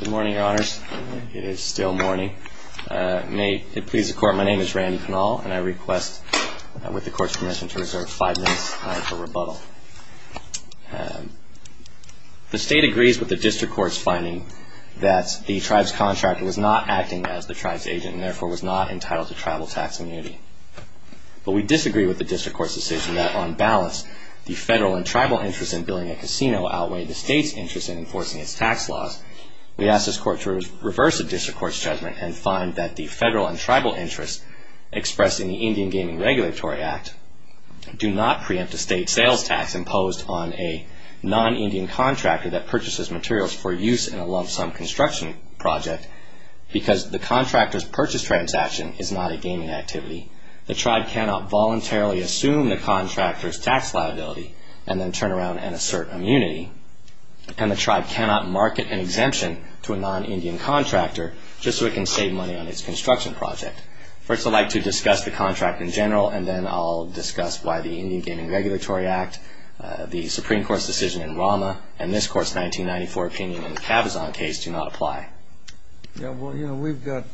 Good morning, your honors. It is still morning. May it please the court, my name is Randy Pinal and I request, with the court's permission, to reserve five minutes for rebuttal. The state agrees with the district court's finding that the tribe's contractor was not acting as the tribe's agent and therefore was not entitled to tribal tax immunity. But we disagree with the district court's decision that, on balance, the federal and tribal interest in building a casino outweighed the state's interest in enforcing its tax laws, we ask this court to reverse the district court's judgment and find that the federal and tribal interest expressed in the Indian Gaming Regulatory Act do not preempt a state sales tax imposed on a non-Indian contractor that purchases materials for use in a lump-sum construction project because the contractor's purchase transaction is not a gaming activity. The tribe cannot voluntarily assume the contractor's tax liability and then turn to a non-Indian contractor just so it can save money on its construction project. First I'd like to discuss the contract in general and then I'll discuss why the Indian Gaming Regulatory Act, the Supreme Court's decision in Rama, and this Court's 1994 opinion in the Cabazon case do not apply. Yeah, well, you know, we've got,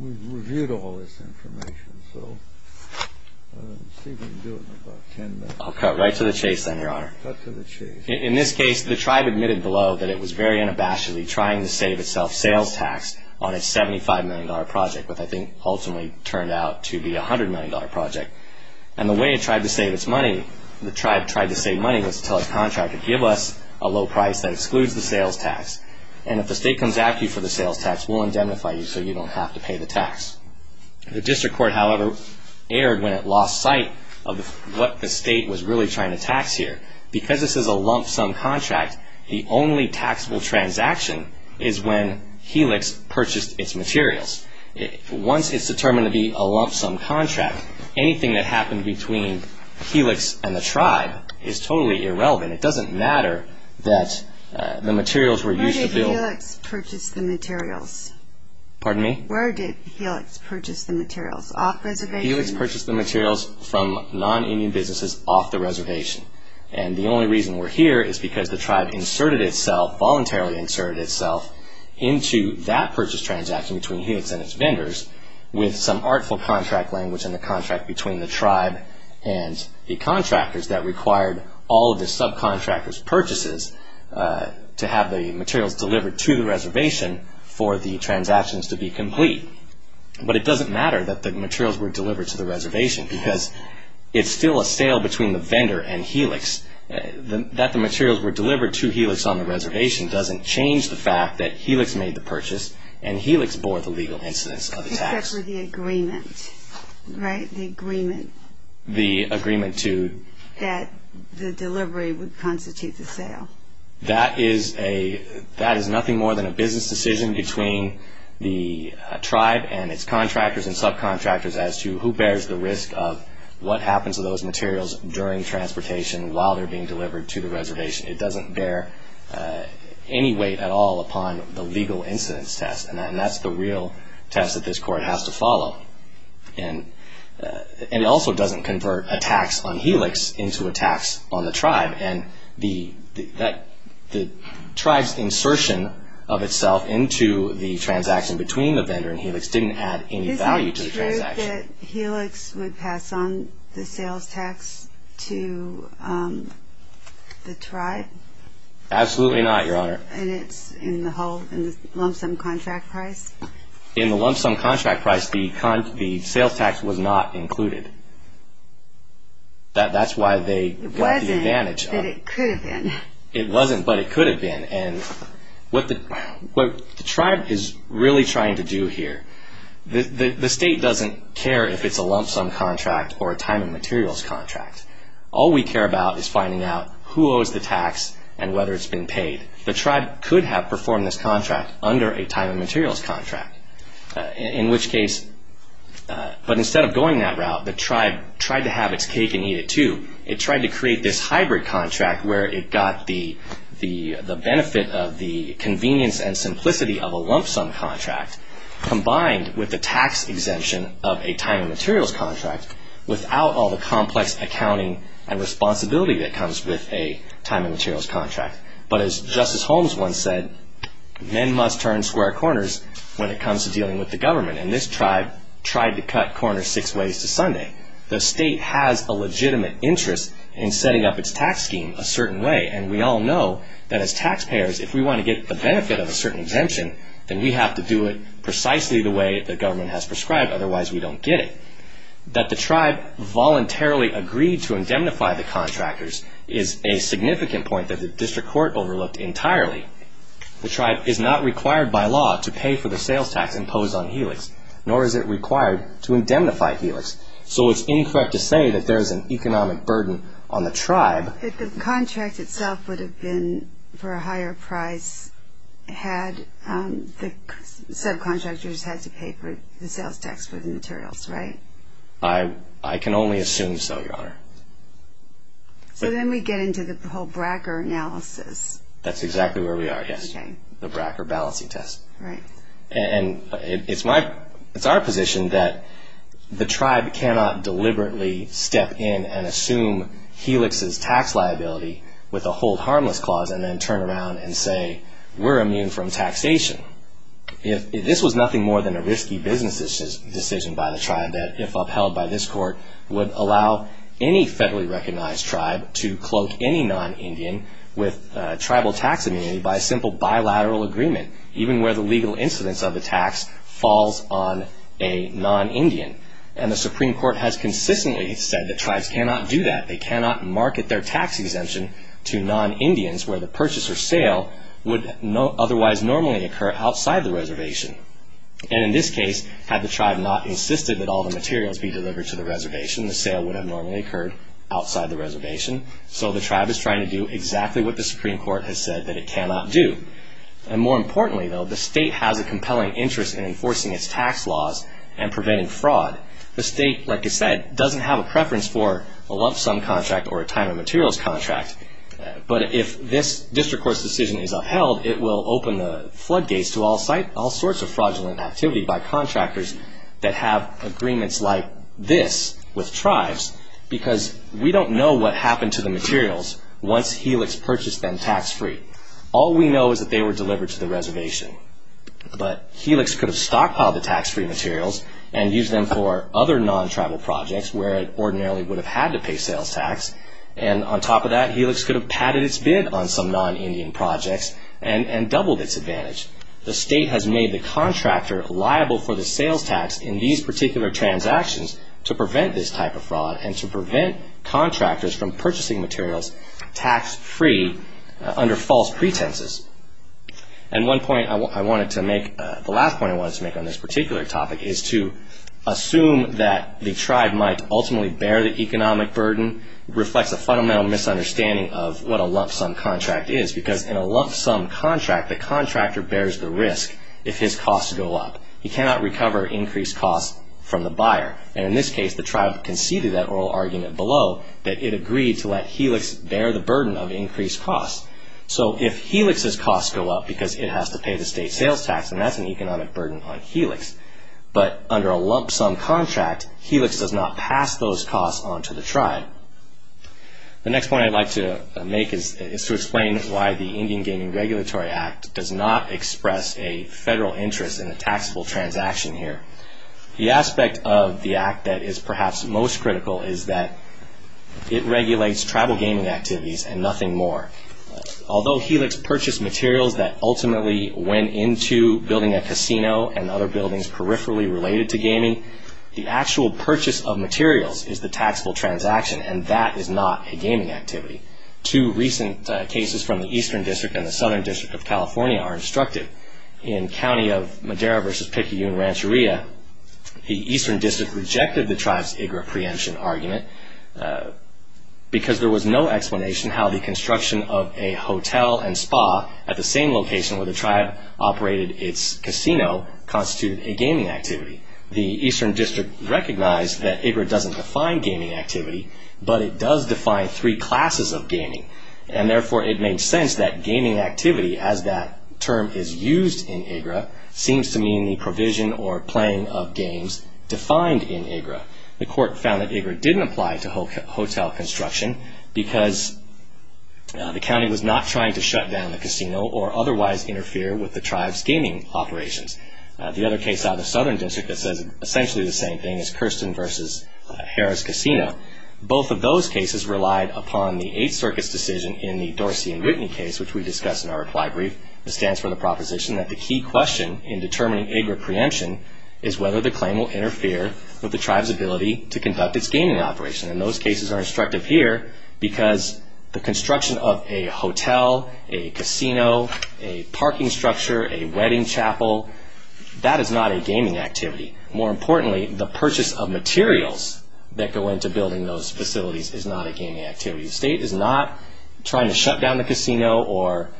we've reviewed all this information, so see if we can do it in about ten minutes. I'll cut right to the chase then, your honor. In this case, the tribe admitted below that it was very unabashedly trying to save itself sales tax on a $75 million project, which I think ultimately turned out to be a $100 million project. And the way it tried to save its money, the tribe tried to save money was to tell its contractor, give us a low price that excludes the sales tax. And if the state comes after you for the sales tax, we'll indemnify you so you don't have to pay the tax. The district court, however, erred when it lost sight of what the state was really trying to tax here. Because this is a lump sum contract, the only taxable transaction is when Helix purchased its materials. Once it's determined to be a lump sum contract, anything that happened between Helix and the tribe is totally irrelevant. It doesn't matter that the materials were used to build... Where did Helix purchase the materials? Off the reservation? Helix purchased the materials from non-union businesses off the reservation. And the only reason we're here is because the tribe inserted itself, voluntarily inserted itself, into that purchase transaction between Helix and its vendors with some artful contract language in the contract between the tribe and the contractors that required all of the subcontractors' purchases to have the materials delivered to the reservation for the transactions to be complete. But it doesn't matter that the materials were delivered to the reservation because it's still a sale between the vendor and Helix. That the materials were delivered to Helix on the reservation doesn't change the fact that Helix made the purchase and Helix bore the legal incidence of the tax. Except for the agreement, right? The agreement. The agreement to... That the delivery would constitute the sale. That is a... That is a decision between the tribe and its contractors and subcontractors as to who bears the risk of what happens to those materials during transportation while they're being delivered to the reservation. It doesn't bear any weight at all upon the legal incidence test. And that's the real test that this court has to follow. And it also doesn't convert a tax on Helix into a tax on the tribe. And the tribe's insertion of itself into the transaction between the vendor and Helix didn't add any value to the transaction. Is it true that Helix would pass on the sales tax to the tribe? Absolutely not, Your Honor. And it's in the lump sum contract price? In the lump sum contract price, the sales tax was not included. It wasn't, but it could have been. It wasn't, but it could have been. And what the tribe is really trying to do here... The state doesn't care if it's a lump sum contract or a time and materials contract. All we care about is finding out who owes the tax and whether it's been paid. The tribe could have performed this contract under a time and materials contract, in which case... The tribe tried to have its cake and eat it too. It tried to create this hybrid contract where it got the benefit of the convenience and simplicity of a lump sum contract, combined with the tax exemption of a time and materials contract, without all the complex accounting and responsibility that comes with a time and materials contract. But as Justice Holmes once said, men must turn square corners when it comes to dealing with the government. And this tribe tried to cut corners six ways to Sunday. The state has a legitimate interest in setting up its tax scheme a certain way. And we all know that as taxpayers, if we want to get the benefit of a certain exemption, then we have to do it precisely the way the government has prescribed, otherwise we don't get it. That the tribe voluntarily agreed to indemnify the contractors is a significant point that the district court overlooked entirely. The tribe is not required by law to pay for the sales tax imposed on Helix, nor is it required to indemnify Helix. So it's incorrect to say that there is an economic burden on the tribe... But the contract itself would have been for a higher price had the subcontractors had to pay for the sales tax for the materials, right? I can only assume so, Your Honor. So then we get into the whole Bracker analysis. That's exactly where we are, yes. The Bracker balancing test. Right. And it's our position that the tribe cannot deliberately step in and assume Helix's tax liability with a hold harmless clause and then turn around and say, we're immune from taxation. This was nothing more than a risky business decision by the tribe that if upheld by this court, would allow any federally recognized tribe to cloak any non-Indian with bilateral agreement, even where the legal incidence of the tax falls on a non-Indian. And the Supreme Court has consistently said that tribes cannot do that. They cannot market their tax exemption to non-Indians where the purchase or sale would otherwise normally occur outside the reservation. And in this case, had the tribe not insisted that all the materials be delivered to the reservation, the sale would have normally occurred outside the reservation. So the tribe is trying to do exactly what the Supreme Court has said that it cannot do. And more importantly, though, the state has a compelling interest in enforcing its tax laws and preventing fraud. The state, like I said, doesn't have a preference for a lump sum contract or a time of materials contract. But if this district court's decision is upheld, it will open the floodgates to all sorts of fraudulent activity by contractors that have agreements like this with tribes because we don't know what the state has done. The state has made the contractor liable for the sales tax in these particular transactions to prevent this type of fraud and to prevent contractors from purchasing materials tax free. All we know is that they were delivered to the reservation. But Helix could have stockpiled the tax-free materials and used them for other non-tribal projects where it ordinarily would have had to pay sales tax. And on top of that, Helix could have padded its bid on some non-Indian projects and doubled its advantage. The state has made the contractor liable for the sales tax in these particular transactions to prevent this type of fraud and to prevent contractors from purchasing materials tax free under false pretenses. And one point I wanted to make, the last point I wanted to make on this particular topic is to assume that the tribe might ultimately bear the economic burden reflects a fundamental misunderstanding of what a lump sum contract is because in a lump sum contract, the contractor bears the risk if his costs go up. He cannot recover increased costs from the buyer. And in this case, the tribe conceded that oral argument below that it agreed to let Helix bear the burden of increased costs. So if Helix's costs go up because it has to pay the state sales tax, then that's an economic burden on Helix. But under a lump sum contract, Helix does not pass those costs on to the tribe. The next point I'd like to make is to explain why the Indian Gaming Regulatory Act does not express a federal interest in a taxable transaction here. The aspect of the most critical is that it regulates tribal gaming activities and nothing more. Although Helix purchased materials that ultimately went into building a casino and other buildings peripherally related to gaming, the actual purchase of materials is the taxable transaction and that is not a gaming activity. Two recent cases from the Eastern District and the Southern District of California are instructive. In County of Madera v. Picayune Rancheria, the Eastern District rejected the tribe's IGRA preemption argument because there was no explanation how the construction of a hotel and spa at the same location where the tribe operated its casino constituted a gaming activity. The Eastern District recognized that IGRA doesn't define gaming activity, but it does define three terms. The term is used in IGRA seems to mean the provision or playing of games defined in IGRA. The court found that IGRA didn't apply to hotel construction because the county was not trying to shut down the casino or otherwise interfere with the tribe's gaming operations. The other case out of the Southern District that says essentially the same thing is Kirsten v. Harris Casino. Both of those cases relied upon the Eighth Circuit's decision in the Dorsey and Whitney case, which we discussed in our reply brief. It stands for the proposition that the key question in determining IGRA preemption is whether the claim will interfere with the tribe's ability to conduct its gaming operation. And those cases are instructive here because the construction of a hotel, a casino, a parking structure, a wedding chapel, that is not a gaming activity. More importantly, the purchase of materials that go into building those facilities is not a gaming activity. The state is not trying to shut down the casino or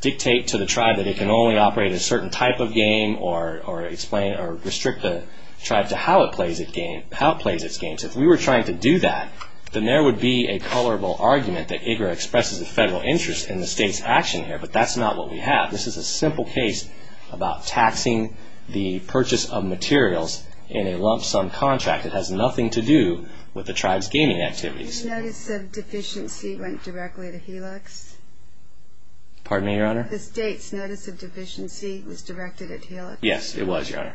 dictate to the tribe that it can only operate a certain type of game or explain or restrict the tribe to how it plays its games. If we were trying to do that, then there would be a colorable argument that IGRA expresses a federal interest in the state's action here, but that's not what we have. This is a simple case about taxing the purchase of materials in a lump sum contract. It has nothing to do with the tribe's gaming activities. The state's notice of deficiency went directly to Helix? Pardon me, Your Honor? The state's notice of deficiency was directed at Helix? Yes, it was, Your Honor.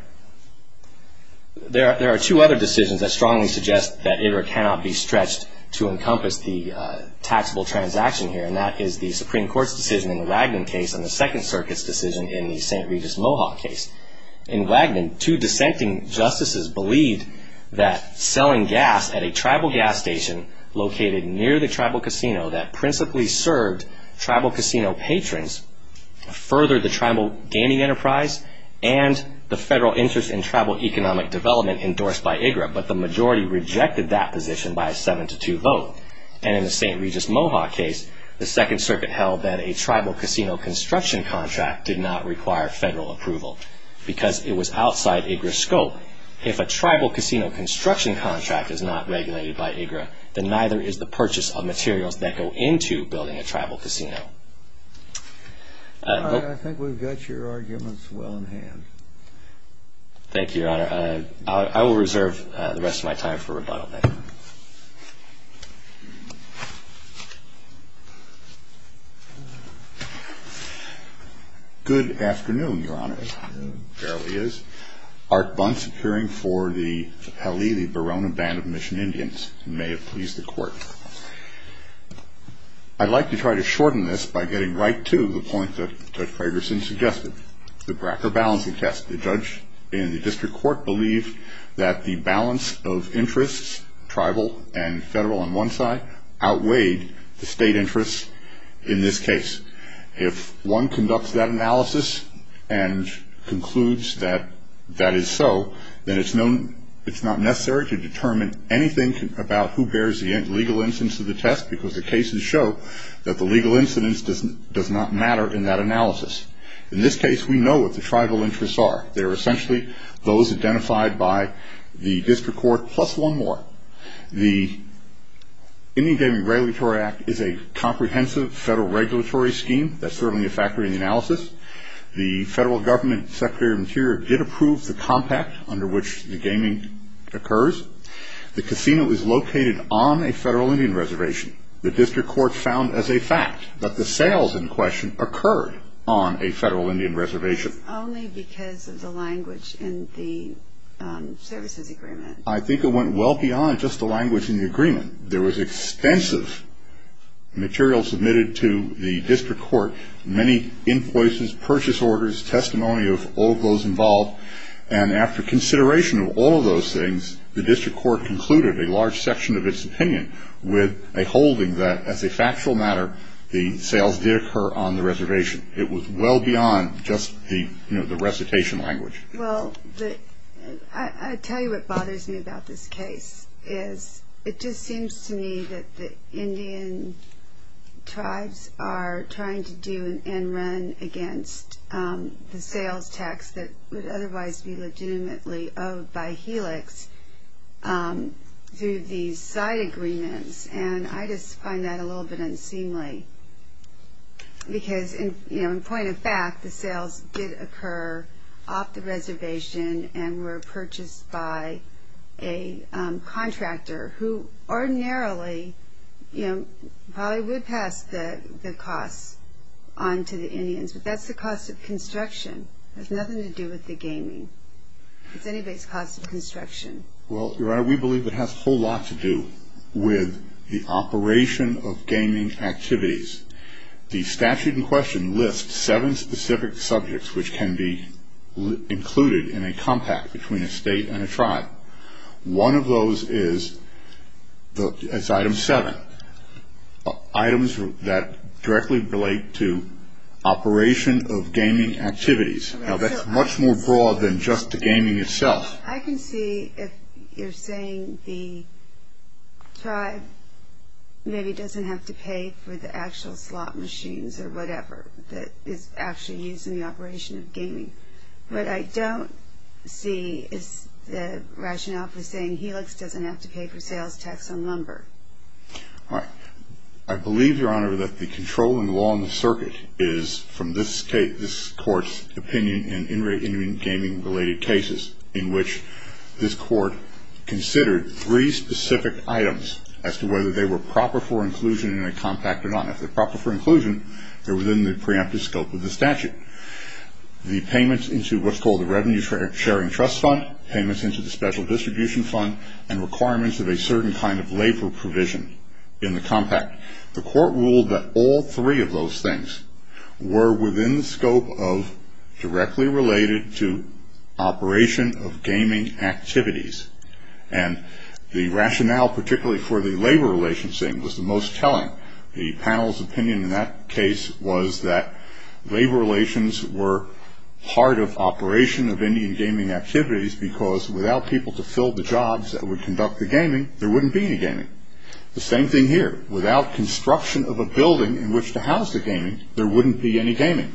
There are two other decisions that strongly suggest that IGRA cannot be stretched to encompass the taxable transaction here, and that is the Supreme Court's decision in the Wagner case and the Second Circuit's decision in the St. Regis Mohawk case. In Wagner, two dissenting justices believed that selling gas at a tribal gas station located near the tribal casino that principally served tribal casino patrons furthered the tribal gaming enterprise and the federal interest in tribal economic development endorsed by IGRA, but the majority rejected that position by a 7-2 vote. And in the St. Regis Mohawk case, the Second Circuit held that a tribal casino construction contract did not require federal approval because it was outside IGRA's scope. If a tribal casino construction contract is not regulated by IGRA, then neither is the purchase of materials that go into building a tribal casino. I think we've got your arguments well in hand. Thank you, Your Honor. I will reserve the rest of my time for rebuttal. Good afternoon, Your Honor. There he is. Art Buntz, appearing for the Halili-Barona Band of Mission Indians. You may have pleased the Court. I'd like to try to shorten this by getting right to the point that Judge Fragerson suggested, the Bracker Balancing Test. The judge in the tribal and federal on one side outweighed the state interest in this case. If one conducts that analysis and concludes that that is so, then it's not necessary to determine anything about who bears the legal incidence of the test because the cases show that the legal incidence does not matter in that analysis. In this case, we know what the tribal interests are. They're The Indian Gaming Regulatory Act is a comprehensive federal regulatory scheme. That's certainly a factor in the analysis. The federal government, Secretary of Interior, did approve the compact under which the gaming occurs. The casino is located on a federal Indian reservation. The district court found as a fact that the sales in question occurred on a federal Indian reservation. Only because of the language in the services agreement. I think it went well beyond just the language in the agreement. There was extensive material submitted to the district court. Many invoices, purchase orders, testimony of all those involved. And after consideration of all of those things, the district court concluded a large section of its opinion with a holding that as a factual matter, the sales did occur on the reservation. It was well beyond just the recitation language. Well, I tell you what bothers me about this case is it just seems to me that the Indian tribes are trying to do an end run against the sales tax that would otherwise be legitimately owed by Helix through these side agreements. And I just find that a little bit unseemly. Because, you know, in point of fact, the sales did occur off the reservation and were purchased by a contractor who ordinarily, you know, probably would pass the costs on to the Indians. But that's the cost of construction. It has nothing to do with the gaming. It's anybody's cost of construction. Well, Your Honor, we believe it has a whole lot to do with the operation of gaming activities. The statute in question lists seven specific subjects which can be included in a compact between a state and a tribe. One of those is item seven, items that directly relate to operation of gaming activities. Now, that's much more broad than just the gaming itself. I can see if you're saying the tribe maybe doesn't have to pay for the actual slot machines or whatever that is actually used in the operation of gaming. What I don't see is the rationale for saying Helix doesn't have to pay for sales tax on lumber. All right. I believe, Your Honor, that the controlling law on the circuit is, from this case, this Court's opinion, in in-ring gaming-related cases in which this Court considered three specific items as to whether they were proper for inclusion in a compact or not. If they're proper for inclusion, they're within the preemptive scope of the statute. The payments into what's called the Revenue Sharing Trust Fund, payments into the Special Distribution Fund, and requirements of a certain kind of labor provision in the compact. The Court ruled that all three of those things were within the scope of directly related to operation of gaming activities. And the rationale, particularly for the labor relations thing, was the most telling. The panel's opinion in that case was that labor relations were part of operation of Indian gaming activities because without people to fill the jobs that would conduct the gaming, there wouldn't be any gaming. The same thing here. Without construction of a building in which to house the gaming, there wouldn't be any gaming.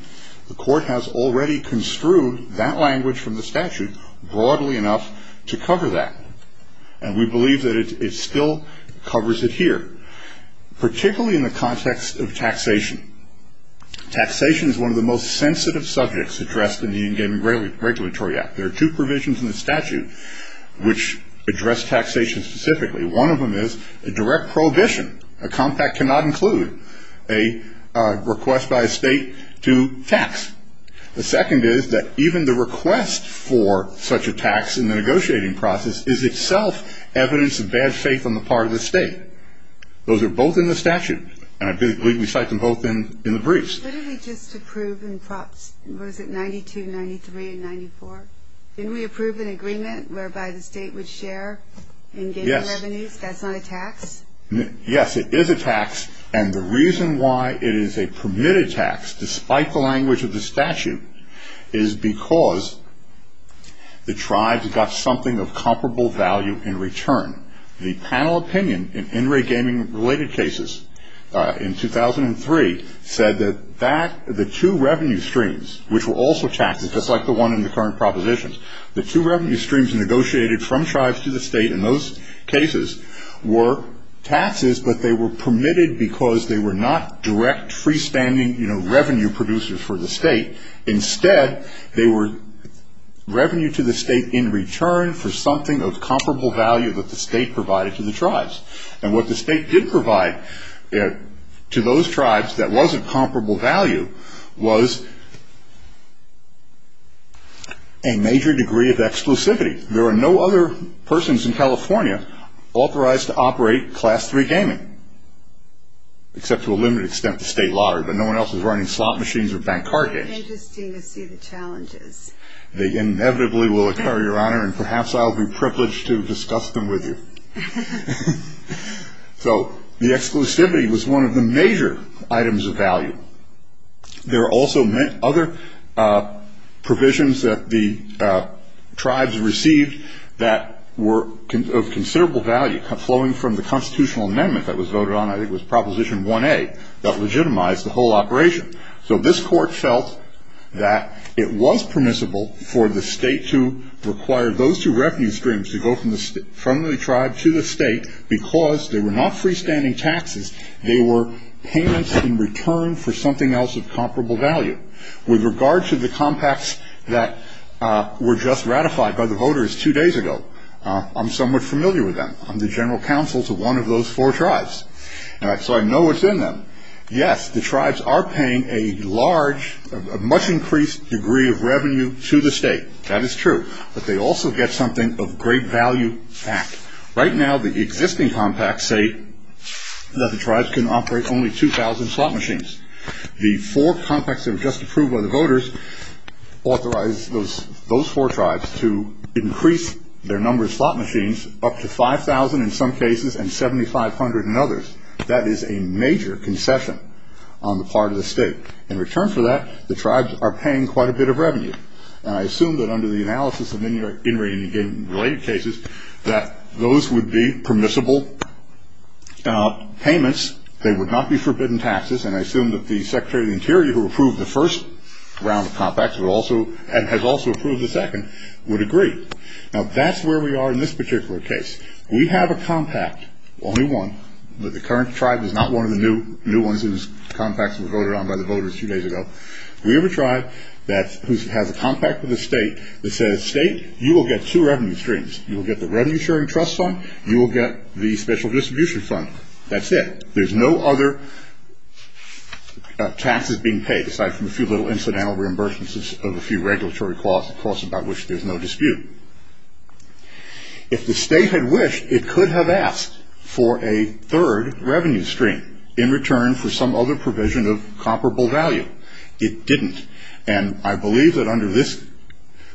The Court has already construed that language from the statute broadly enough to cover that. And we believe that it still covers it here, particularly in the context of taxation. Taxation is one of the most sensitive subjects addressed in the Indian Gaming Regulatory Act. There are two provisions in the statute which address taxation specifically. One of them is a direct prohibition. A compact cannot include a request by a state to tax. The second is that even the request for such a tax in the negotiating process is itself evidence of bad faith on the part of the state. Those are both in the statute, and I believe we cite them both in the briefs. What did we just approve in Props? Was it 92, 93, and 94? Didn't we approve an tax? Yes, it is a tax, and the reason why it is a permitted tax, despite the language of the statute, is because the tribes got something of comparable value in return. The panel opinion in in-ring gaming-related cases in 2003 said that the two revenue streams, which were also taxes, just like the one in the current propositions, the two revenue streams negotiated from tribes to the were taxes, but they were permitted because they were not direct, freestanding, you know, revenue producers for the state. Instead, they were revenue to the state in return for something of comparable value that the state provided to the tribes. And what the state did provide to those tribes that wasn't comparable value was a major degree of exclusivity. There are no other persons in California authorized to operate Class III gaming, except to a limited extent the state lottery, but no one else is running slot machines or bank card games. Interesting to see the challenges. They inevitably will occur, Your Honor, and perhaps I'll be privileged to discuss them with you. So the exclusivity was one of the major items of value. There are also other provisions that the tribes received that were of considerable value, flowing from the constitutional amendment that was voted on, I think it was Proposition 1A, that legitimized the whole operation. So this court felt that it was permissible for the state to require those two revenue streams to go from the tribe to the state because they were not freestanding taxes. They were payments in return for something else of comparable value. With regard to the compacts that were just ratified by the voters two days ago, I'm somewhat familiar with them. I'm the general counsel to one of those four tribes. So I know what's in them. Yes, the tribes are paying a large, much increased degree of revenue to the state. That is true. But they also get something of great value back. Right now, the existing compacts say that the tribes can operate only 2,000 slot machines. The four compacts that were just approved by the voters authorized those four tribes to increase their number of slot machines up to 5,000 in some cases and 7,500 in others. That is a major concession on the part of the state. In return for that, the tribes are paying quite a bit of revenue. I assume that under the analysis of in-ring and in-game related cases that those would be permissible payments. They would not be forbidden taxes. And I assume that the Secretary of the Interior, who approved the first round of compacts, and has also approved the second, would agree. Now, that's where we are in this particular case. We have a compact, only one, but the current tribe is not one of the new ones whose compacts were voted on by the state that says, state, you will get two revenue streams. You will get the revenue sharing trust fund. You will get the special distribution fund. That's it. There's no other taxes being paid aside from a few little incidental reimbursements of a few regulatory costs, costs about which there's no dispute. If the state had wished, it could have asked for a third revenue stream in return for some other provision of comparable value. It didn't. And I this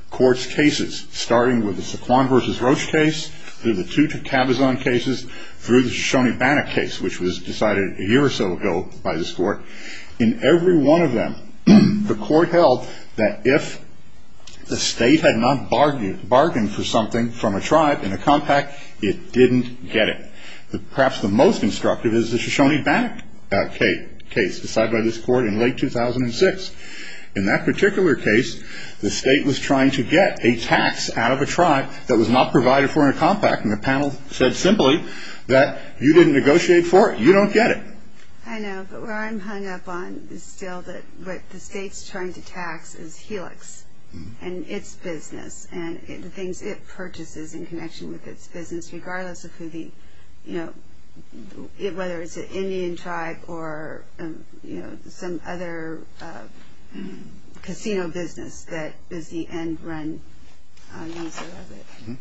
court's cases, starting with the Saquon versus Roche case, through the two Tabazon cases, through the Shoshone-Bannock case, which was decided a year or so ago by this court, in every one of them, the court held that if the state had not bargained for something from a tribe in a compact, it didn't get it. Perhaps the most instructive is the Shoshone-Bannock case, decided by this court in late 2006. In that particular case, the state was trying to get a tax out of a tribe that was not provided for in a compact. And the panel said simply that, you didn't negotiate for it. You don't get it. I know, but where I'm hung up on is still that what the state's trying to tax is Helix and its business and the things it purchases in connection with its business, regardless of who the, you know, whether it's an Indian tribe or, you know, some other casino business that is the end-run user of it.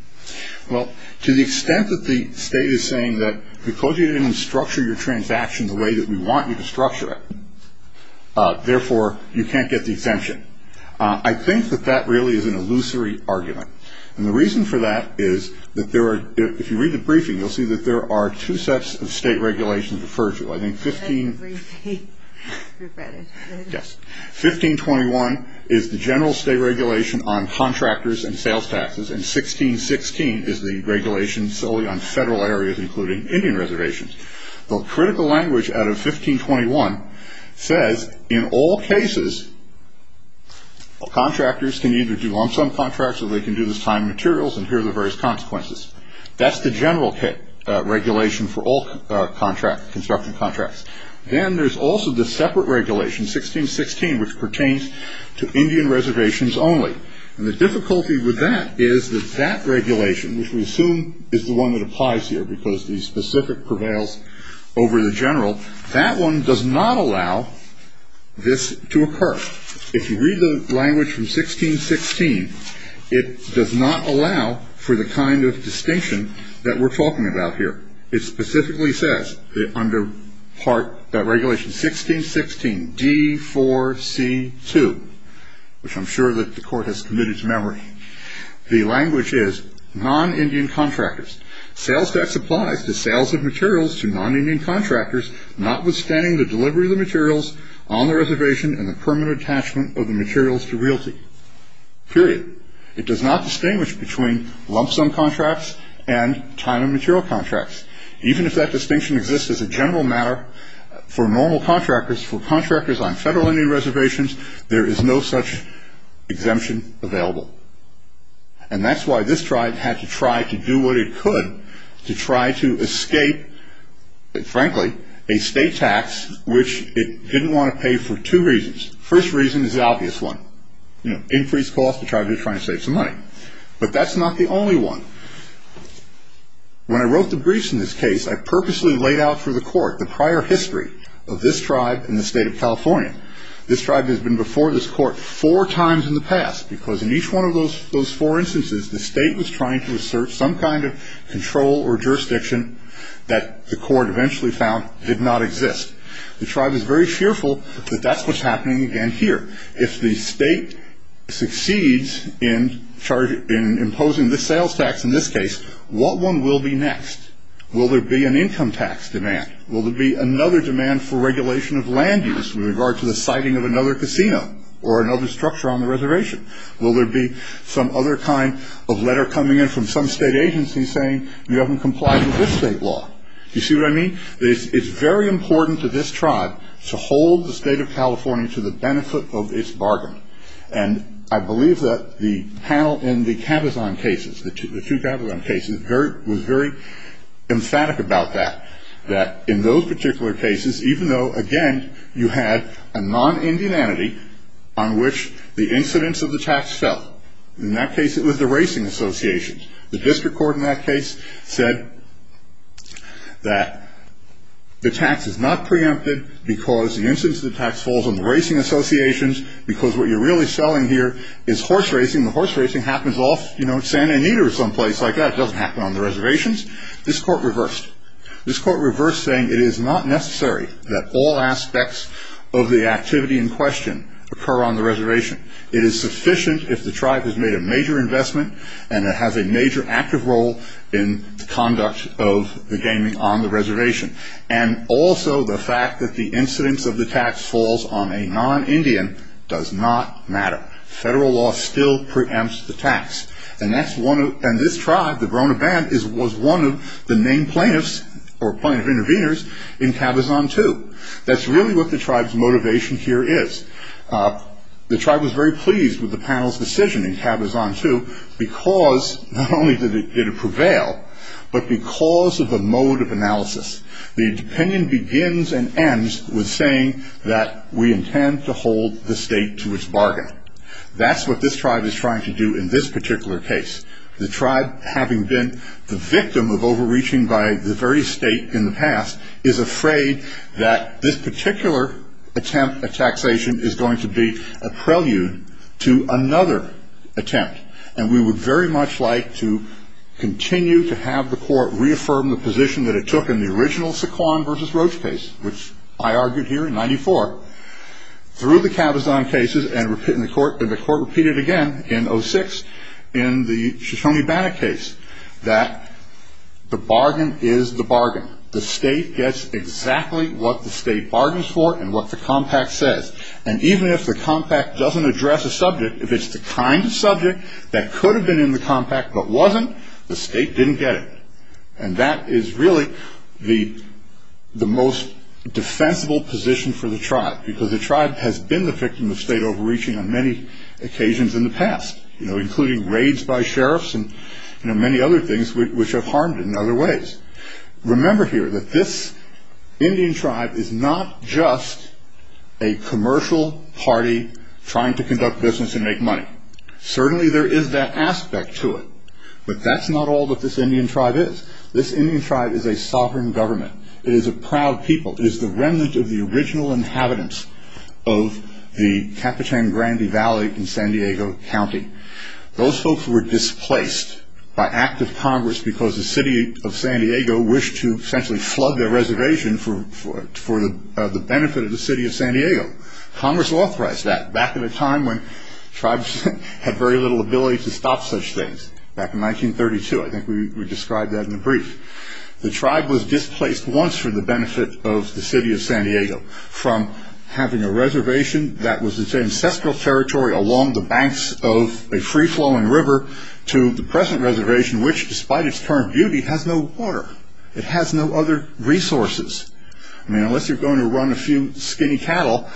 Well, to the extent that the state is saying that because you didn't structure your transactions the way that we want you to structure it, therefore, you can't get the exemption. I think that that really is an illusory argument. And the reason for that is that there are, if you read the briefing, you'll see that there are two sets of state regulations referred to. I think 15- I didn't read the brief, but I did. Yes. 1521 is the general state regulation on contractors and sales taxes, and 1616 is the regulation solely on federal areas, including Indian reservations. The critical language out of 1521 says, in all cases, contractors can either do lump-sum contracts or they can do this time and materials, and here are the various consequences. That's the general regulation for all construction contracts. Then there's also the separate regulation, 1616, which pertains to Indian reservations only. And the difficulty with that is that that regulation, which we assume is the one that applies here because the specific prevails over the general, that one does not allow this to occur. If you read the language from 1616, it does not allow for the kind of distinction that we're talking about here. It specifically says under part, that regulation 1616, D4C2, which I'm sure that the court has committed to memory, the language is non-Indian contractors. Sales tax applies to sales of materials to non-Indian contractors, notwithstanding the delivery of the materials on the reservation and the permanent attachment of the materials to realty. Period. It does not distinguish between lump-sum contracts and time and material contracts. Even if that distinction exists as a general matter, for normal contractors, for contractors on federal Indian reservations, there is no such exemption available. And that's why this tribe had to try to do what it could to try to escape, frankly, a state tax, which it didn't want to pay for two reasons. First reason is the obvious one. Increase cost to try to save some money. But that's not the only one. When I wrote the briefs in this case, I purposely laid out for the court the prior history of this tribe in the state of California. This tribe has been before this court four times in the past because in each one of those four instances, the state was trying to assert some kind of control or jurisdiction that the court eventually found did not exist. The tribe is very fearful that that's what's happening again here. If the state succeeds in imposing the sales tax in this case, what one will be next? Will there be an income tax demand? Will there be another demand for regulation of land use with regard to the siting of another casino or another structure on the reservation? Will there be some other kind of letter coming in from some state agency saying you haven't complied with this state law? Do you see what I mean? It's very important to this tribe to hold the state of California to the benefit of its bargain. And I believe that the panel in the Cabazon cases, the two Cabazon cases, was very emphatic about that. That in those particular cases, even though, again, you had a non-Indian entity on which the incidence of the tax fell. In that case, it was the racing associations. The district court in that case said that the tax is not preempted because the incidence of the tax falls on the racing associations because what you're really selling here is horse racing. The horse racing happens off, you know, San Anita or someplace like that. It doesn't happen on the reservations. This court reversed. This court reversed saying it is not necessary that all aspects of the activity in question occur on the reservation. It is sufficient if the tribe has made a major investment and it has a major active role in conduct of the gaming on the reservation. And also the fact that the incidence of the tax falls on a non-Indian does not matter. Federal law still preempts the tax. And that's one of, and this tribe, the Verona Band, is, was one of the main plaintiffs or plaintiff intervenors in Cabazon 2. That's really what the tribe's motivation here is. The tribe was very pleased with the panel's decision in Cabazon 2 because not only did it prevail, but because of the mode of analysis. The opinion begins and ends with saying that we intend to hold the state to its bargain. That's what this tribe is trying to do in this particular case. The tribe, having been the victim of overreaching by the very state in the past, is afraid that this particular attempt at taxation is going to be a prelude to another attempt. And we would very much like to continue to have the court reaffirm the position that it took in the original Saquon versus Roach case, which I argued here in 94, through the Cabazon cases, and the court repeated again in 06 in the Shoshone-Bannock case, that the bargain is the bargain. The state gets exactly what the state bargains for and what the compact says. And even if the compact doesn't address a subject, if it's the kind of subject that could have been in the compact but wasn't, the state didn't get it. And that is really the most defensible position for the tribe, because the tribe has been the victim of state overreaching on many occasions in the past, including raids by sheriffs and many other things which have harmed it in other ways. Remember here that this Indian tribe is not just a commercial party trying to conduct business and make money. Certainly there is that aspect to it, but that's not all that this Indian tribe is. This Indian tribe is a sovereign government. It is a proud people. It is the remnant of the original inhabitants of the Capuchin Grand Valley in San Diego County. Those folks were displaced by active Congress because the city of San Diego wished to essentially flood their reservation for the benefit of the city of San Diego. Congress authorized that back in a time when tribes had very little ability to stop such things, back in 1932. I think we described that in the brief. The tribe was displaced once for the benefit of the city of San Diego from having a reservation that was its ancestral territory along the banks of a free-flowing river to the present reservation which, despite its current beauty, has no water. It has no other resources. I mean, unless you're going to run a few skinny cattle,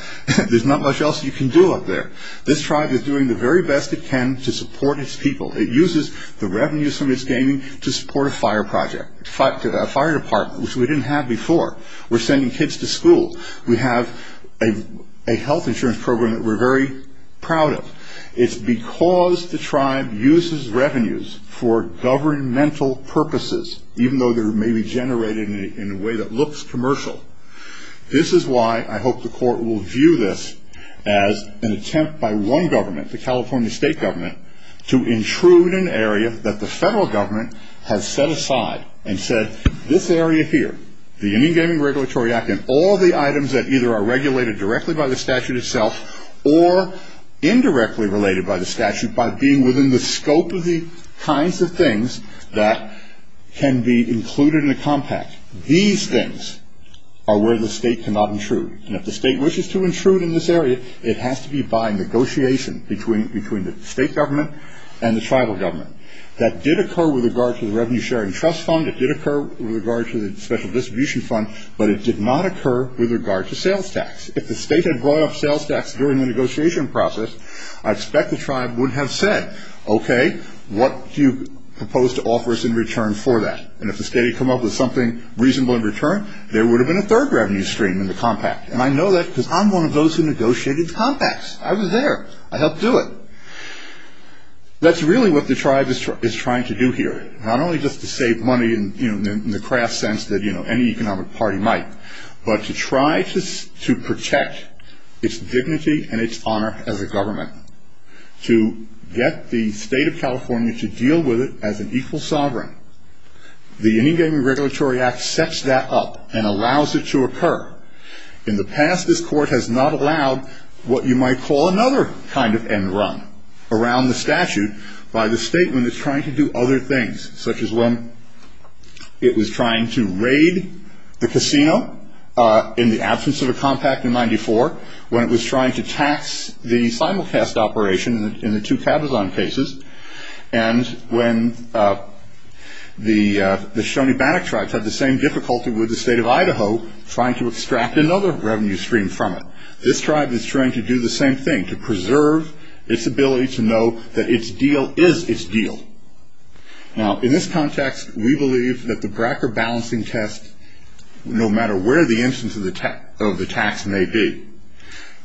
there's not much else you can do up there. This tribe is doing the very best it can to support its people. It uses the revenues from its gaming to support a fire project, a fire department, which we didn't have before. We're sending kids to school. We have a health insurance program that we're very proud of. It's because the tribe uses revenues for governmental purposes, even though they may be generated in a way that looks commercial. This is why I hope the court will view this as an attempt by one government, the California state government, to intrude an area that the federal government has set aside and said, this area here, the Indian Gaming Regulatory Act and all the items that either are regulated directly by the statute itself or indirectly related by the statute by being within the scope of the kinds of things that can be included in a compact, these things are where the state cannot intrude. And if the state wishes to intrude in this area, it has to be by negotiation between the state government and the tribal government. That did occur with regard to the Revenue Sharing Trust Fund. It did occur with regard to the Special Distribution Fund, but it did not occur with regard to sales tax. If the state had brought up sales tax during the negotiation process, I expect the tribe would have said, okay, what do you propose to offer us in return for that? And if the state had come up with something reasonable in return, there would have been a third revenue stream in the compact. And I know that because I'm one of those who negotiated the compacts. I was there. I helped do it. But that's really what the tribe is trying to do here. Not only just to save money in the crass sense that any economic party might, but to try to protect its dignity and its honor as a government, to get the state of California to deal with it as an equal sovereign. The Indie Gaming Regulatory Act sets that up and allows it to occur. In the past, this court has not allowed what you might call another kind of end run around the statute by the state when it's trying to do other things, such as when it was trying to raid the casino in the absence of a compact in 94, when it was trying to tax the simulcast operation in the two Cabazon cases, and when the Shawnee Bannock tribes had the same difficulty with the state of Idaho trying to extract another revenue stream from it. This tribe is trying to do the same thing, to preserve its ability to know that its deal is its deal. Now, in this context, we believe that the Bracker balancing test, no matter where the instance of the tax may be,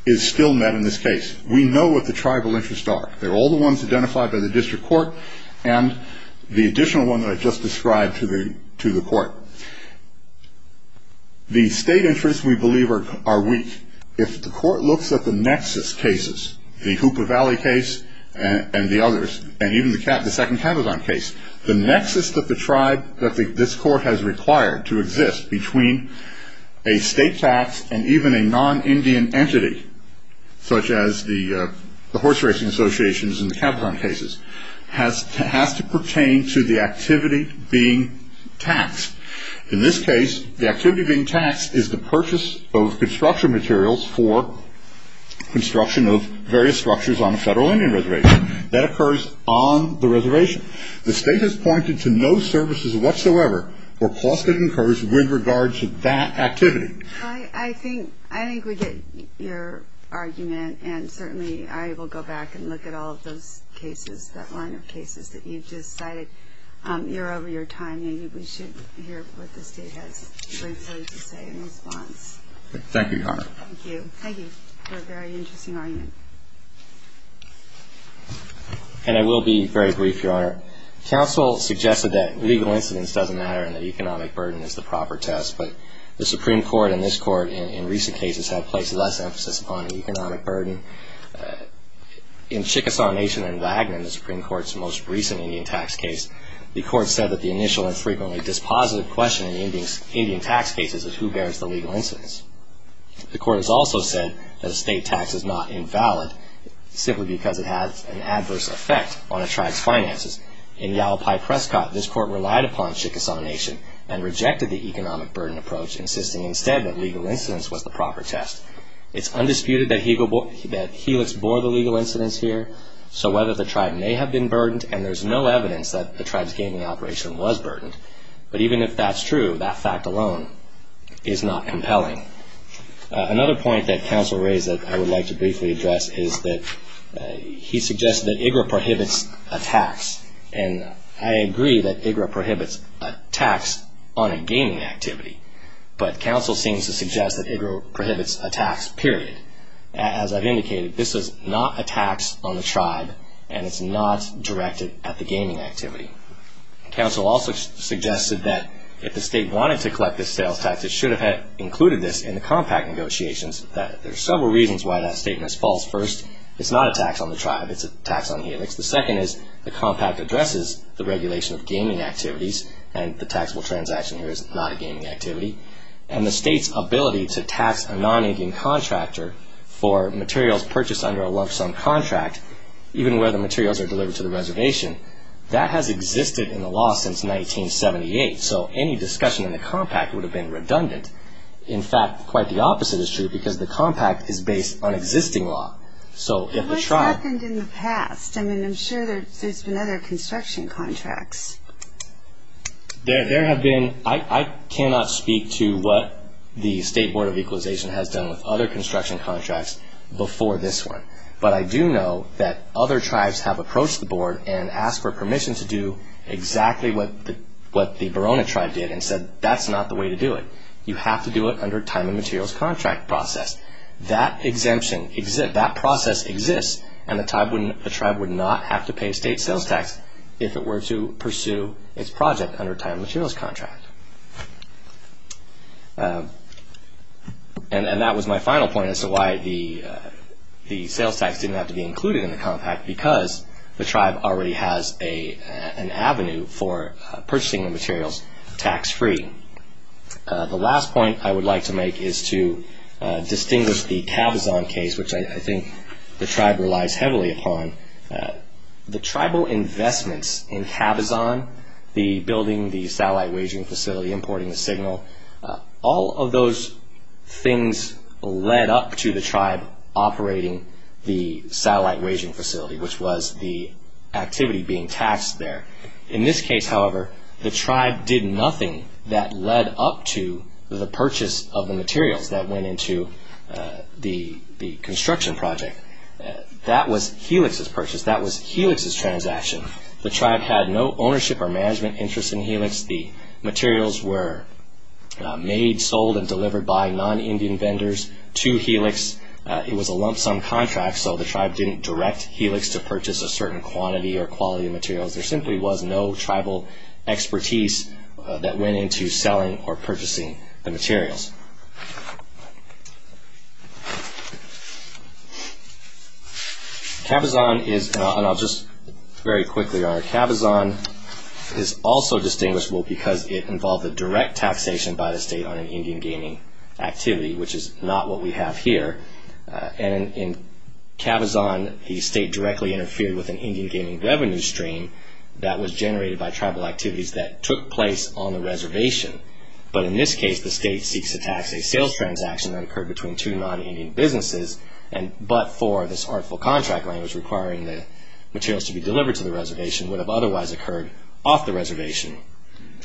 is still met in this case. We know what the tribal interests are. They're all the ones identified by the district court and the additional one that I just described to the court. The state interests, we believe, are weak. If the court looks at the nexus cases, the Hoopa Valley case and the others, and even the second Cabazon case, the nexus of the tribe that this court has required to exist between a state tax and even a non-Indian entity, such as the horse racing associations in the Cabazon cases, has to pertain to the activity being taxed. In this case, the activity being taxed is the purchase of construction materials for construction of various structures on a federal Indian reservation. That occurs on the reservation. The state has pointed to no services whatsoever or cost that occurs with regards to that activity. Well, I think we get your argument, and certainly I will go back and look at all of those cases, that line of cases that you've just cited. You're over your time. Maybe we should hear what the state has briefly to say in response. Thank you, Your Honor. Thank you. Thank you for a very interesting argument. And I will be very brief, Your Honor. Counsel suggested that legal incidence doesn't matter and that economic burden is the proper test, but the Supreme Court and this court in recent cases have placed less emphasis upon economic burden. In Chickasaw Nation and Wagner, the Supreme Court's most recent Indian tax case, the court said that the initial and frequently dispositive question in the Indian tax cases is who bears the legal incidence. The court has also said that a state tax is not invalid simply because it has an adverse effect on a tribe's finances. In Yalapai-Prescott, this court relied upon Chickasaw Nation and rejected the economic burden approach, insisting instead that legal incidence was the proper test. It's undisputed that Helix bore the legal incidence here, so whether the tribe may have been burdened, and there's no evidence that the tribe's gaming operation was burdened, but even if that's true, that fact alone is not compelling. Another point that counsel raised that I would like to briefly address is that he suggested that IGRA prohibits attacks, and I agree that IGRA prohibits attacks on a gaming activity, but counsel seems to suggest that IGRA prohibits attacks, period. As I've indicated, this is not attacks on the tribe and it's not directed at the gaming activity. Counsel also suggested that if the state wanted to collect this sales tax, it should have included this in the compact negotiations. There are several reasons why that statement is false. First, it's not attacks on the tribe, it's attacks on Helix. The second is the compact addresses the regulation of gaming activities, and the taxable transaction here is not a gaming activity, and the state's ability to tax a non-Indian contractor for materials purchased under a lump-sum contract, even where the materials are delivered to the reservation, that has existed in the law since 1978, so any discussion in the compact would have been redundant. In fact, quite the opposite is true, because the compact is based on existing law, so if the tribe... What's happened in the past? I mean, I'm sure there's been other construction contracts. There have been... I cannot speak to what the State Board of Equalization has done with other construction contracts before this one, but I do know that other tribes have approached the board and asked for permission to do exactly what the Barona tribe did and said that's not the way to do it. You have to do it under a time and materials contract process. That exemption exists, that process exists, and the tribe would not have to pay state sales tax if it were to pursue its project under a time and materials contract. And that was my final point as to why the sales tax didn't have to be included in the compact, because the tribe already has an avenue for purchasing the materials tax-free. The last point I would like to make is to distinguish the Cabazon case, which I think the tribe relies heavily upon. The tribal investments in Cabazon, the building, the satellite waging facility, importing the signal, all of those things led up to the tribe operating the satellite waging facility, which was the activity being taxed there. In this case, however, the tribe did nothing that led up to the purchase of the materials that went into the construction project. That was Helix's purchase, that was Helix's transaction. The tribe had no ownership or management interest in Helix. The materials were made, sold, and delivered by non-Indian vendors to Helix. It was a lump-sum contract, so the tribe didn't direct Helix to purchase a certain quantity or quality of materials. There simply was no tribal expertise that went into selling or purchasing the materials. Cabazon is, and I'll just very quickly, Cabazon is also distinguishable because it involved a direct taxation by the state on an Indian gaming activity, which is not what we have here. And in Cabazon, the state directly interfered with an Indian gaming revenue stream that was generated by tribal activities that took place on the reservation. But in this case, the state seeks to tax a sales transaction that occurred between two non-Indian businesses, but for this artful contract language requiring the materials to be delivered to the reservation would have otherwise occurred off the reservation.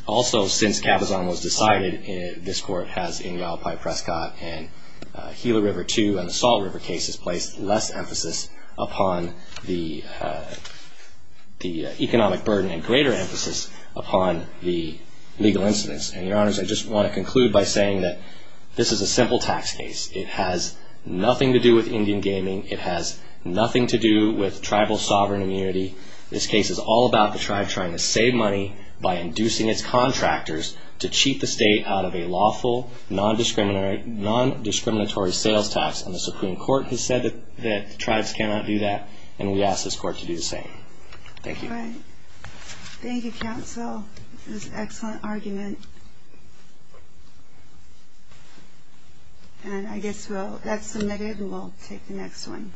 Also, since Cabazon was decided, this court has Ingle, Pipe, Prescott, and Gila River, too, and the Salt River case has placed less emphasis upon the economic burden and greater emphasis upon the legal incidents. And, Your Honors, I just want to conclude by saying that this is a simple tax case. It has nothing to do with Indian gaming. It has nothing to do with tribal sovereign immunity. This case is all about the tribe trying to save money by inducing its contractors to cheat the state out of a lawful, non-discriminatory sales tax, and the Supreme Court has said that tribes cannot do that, and we ask this court to do the same. Thank you. All right. Thank you, counsel. It was an excellent argument. And I guess we'll, that's submitted, and we'll take the next one.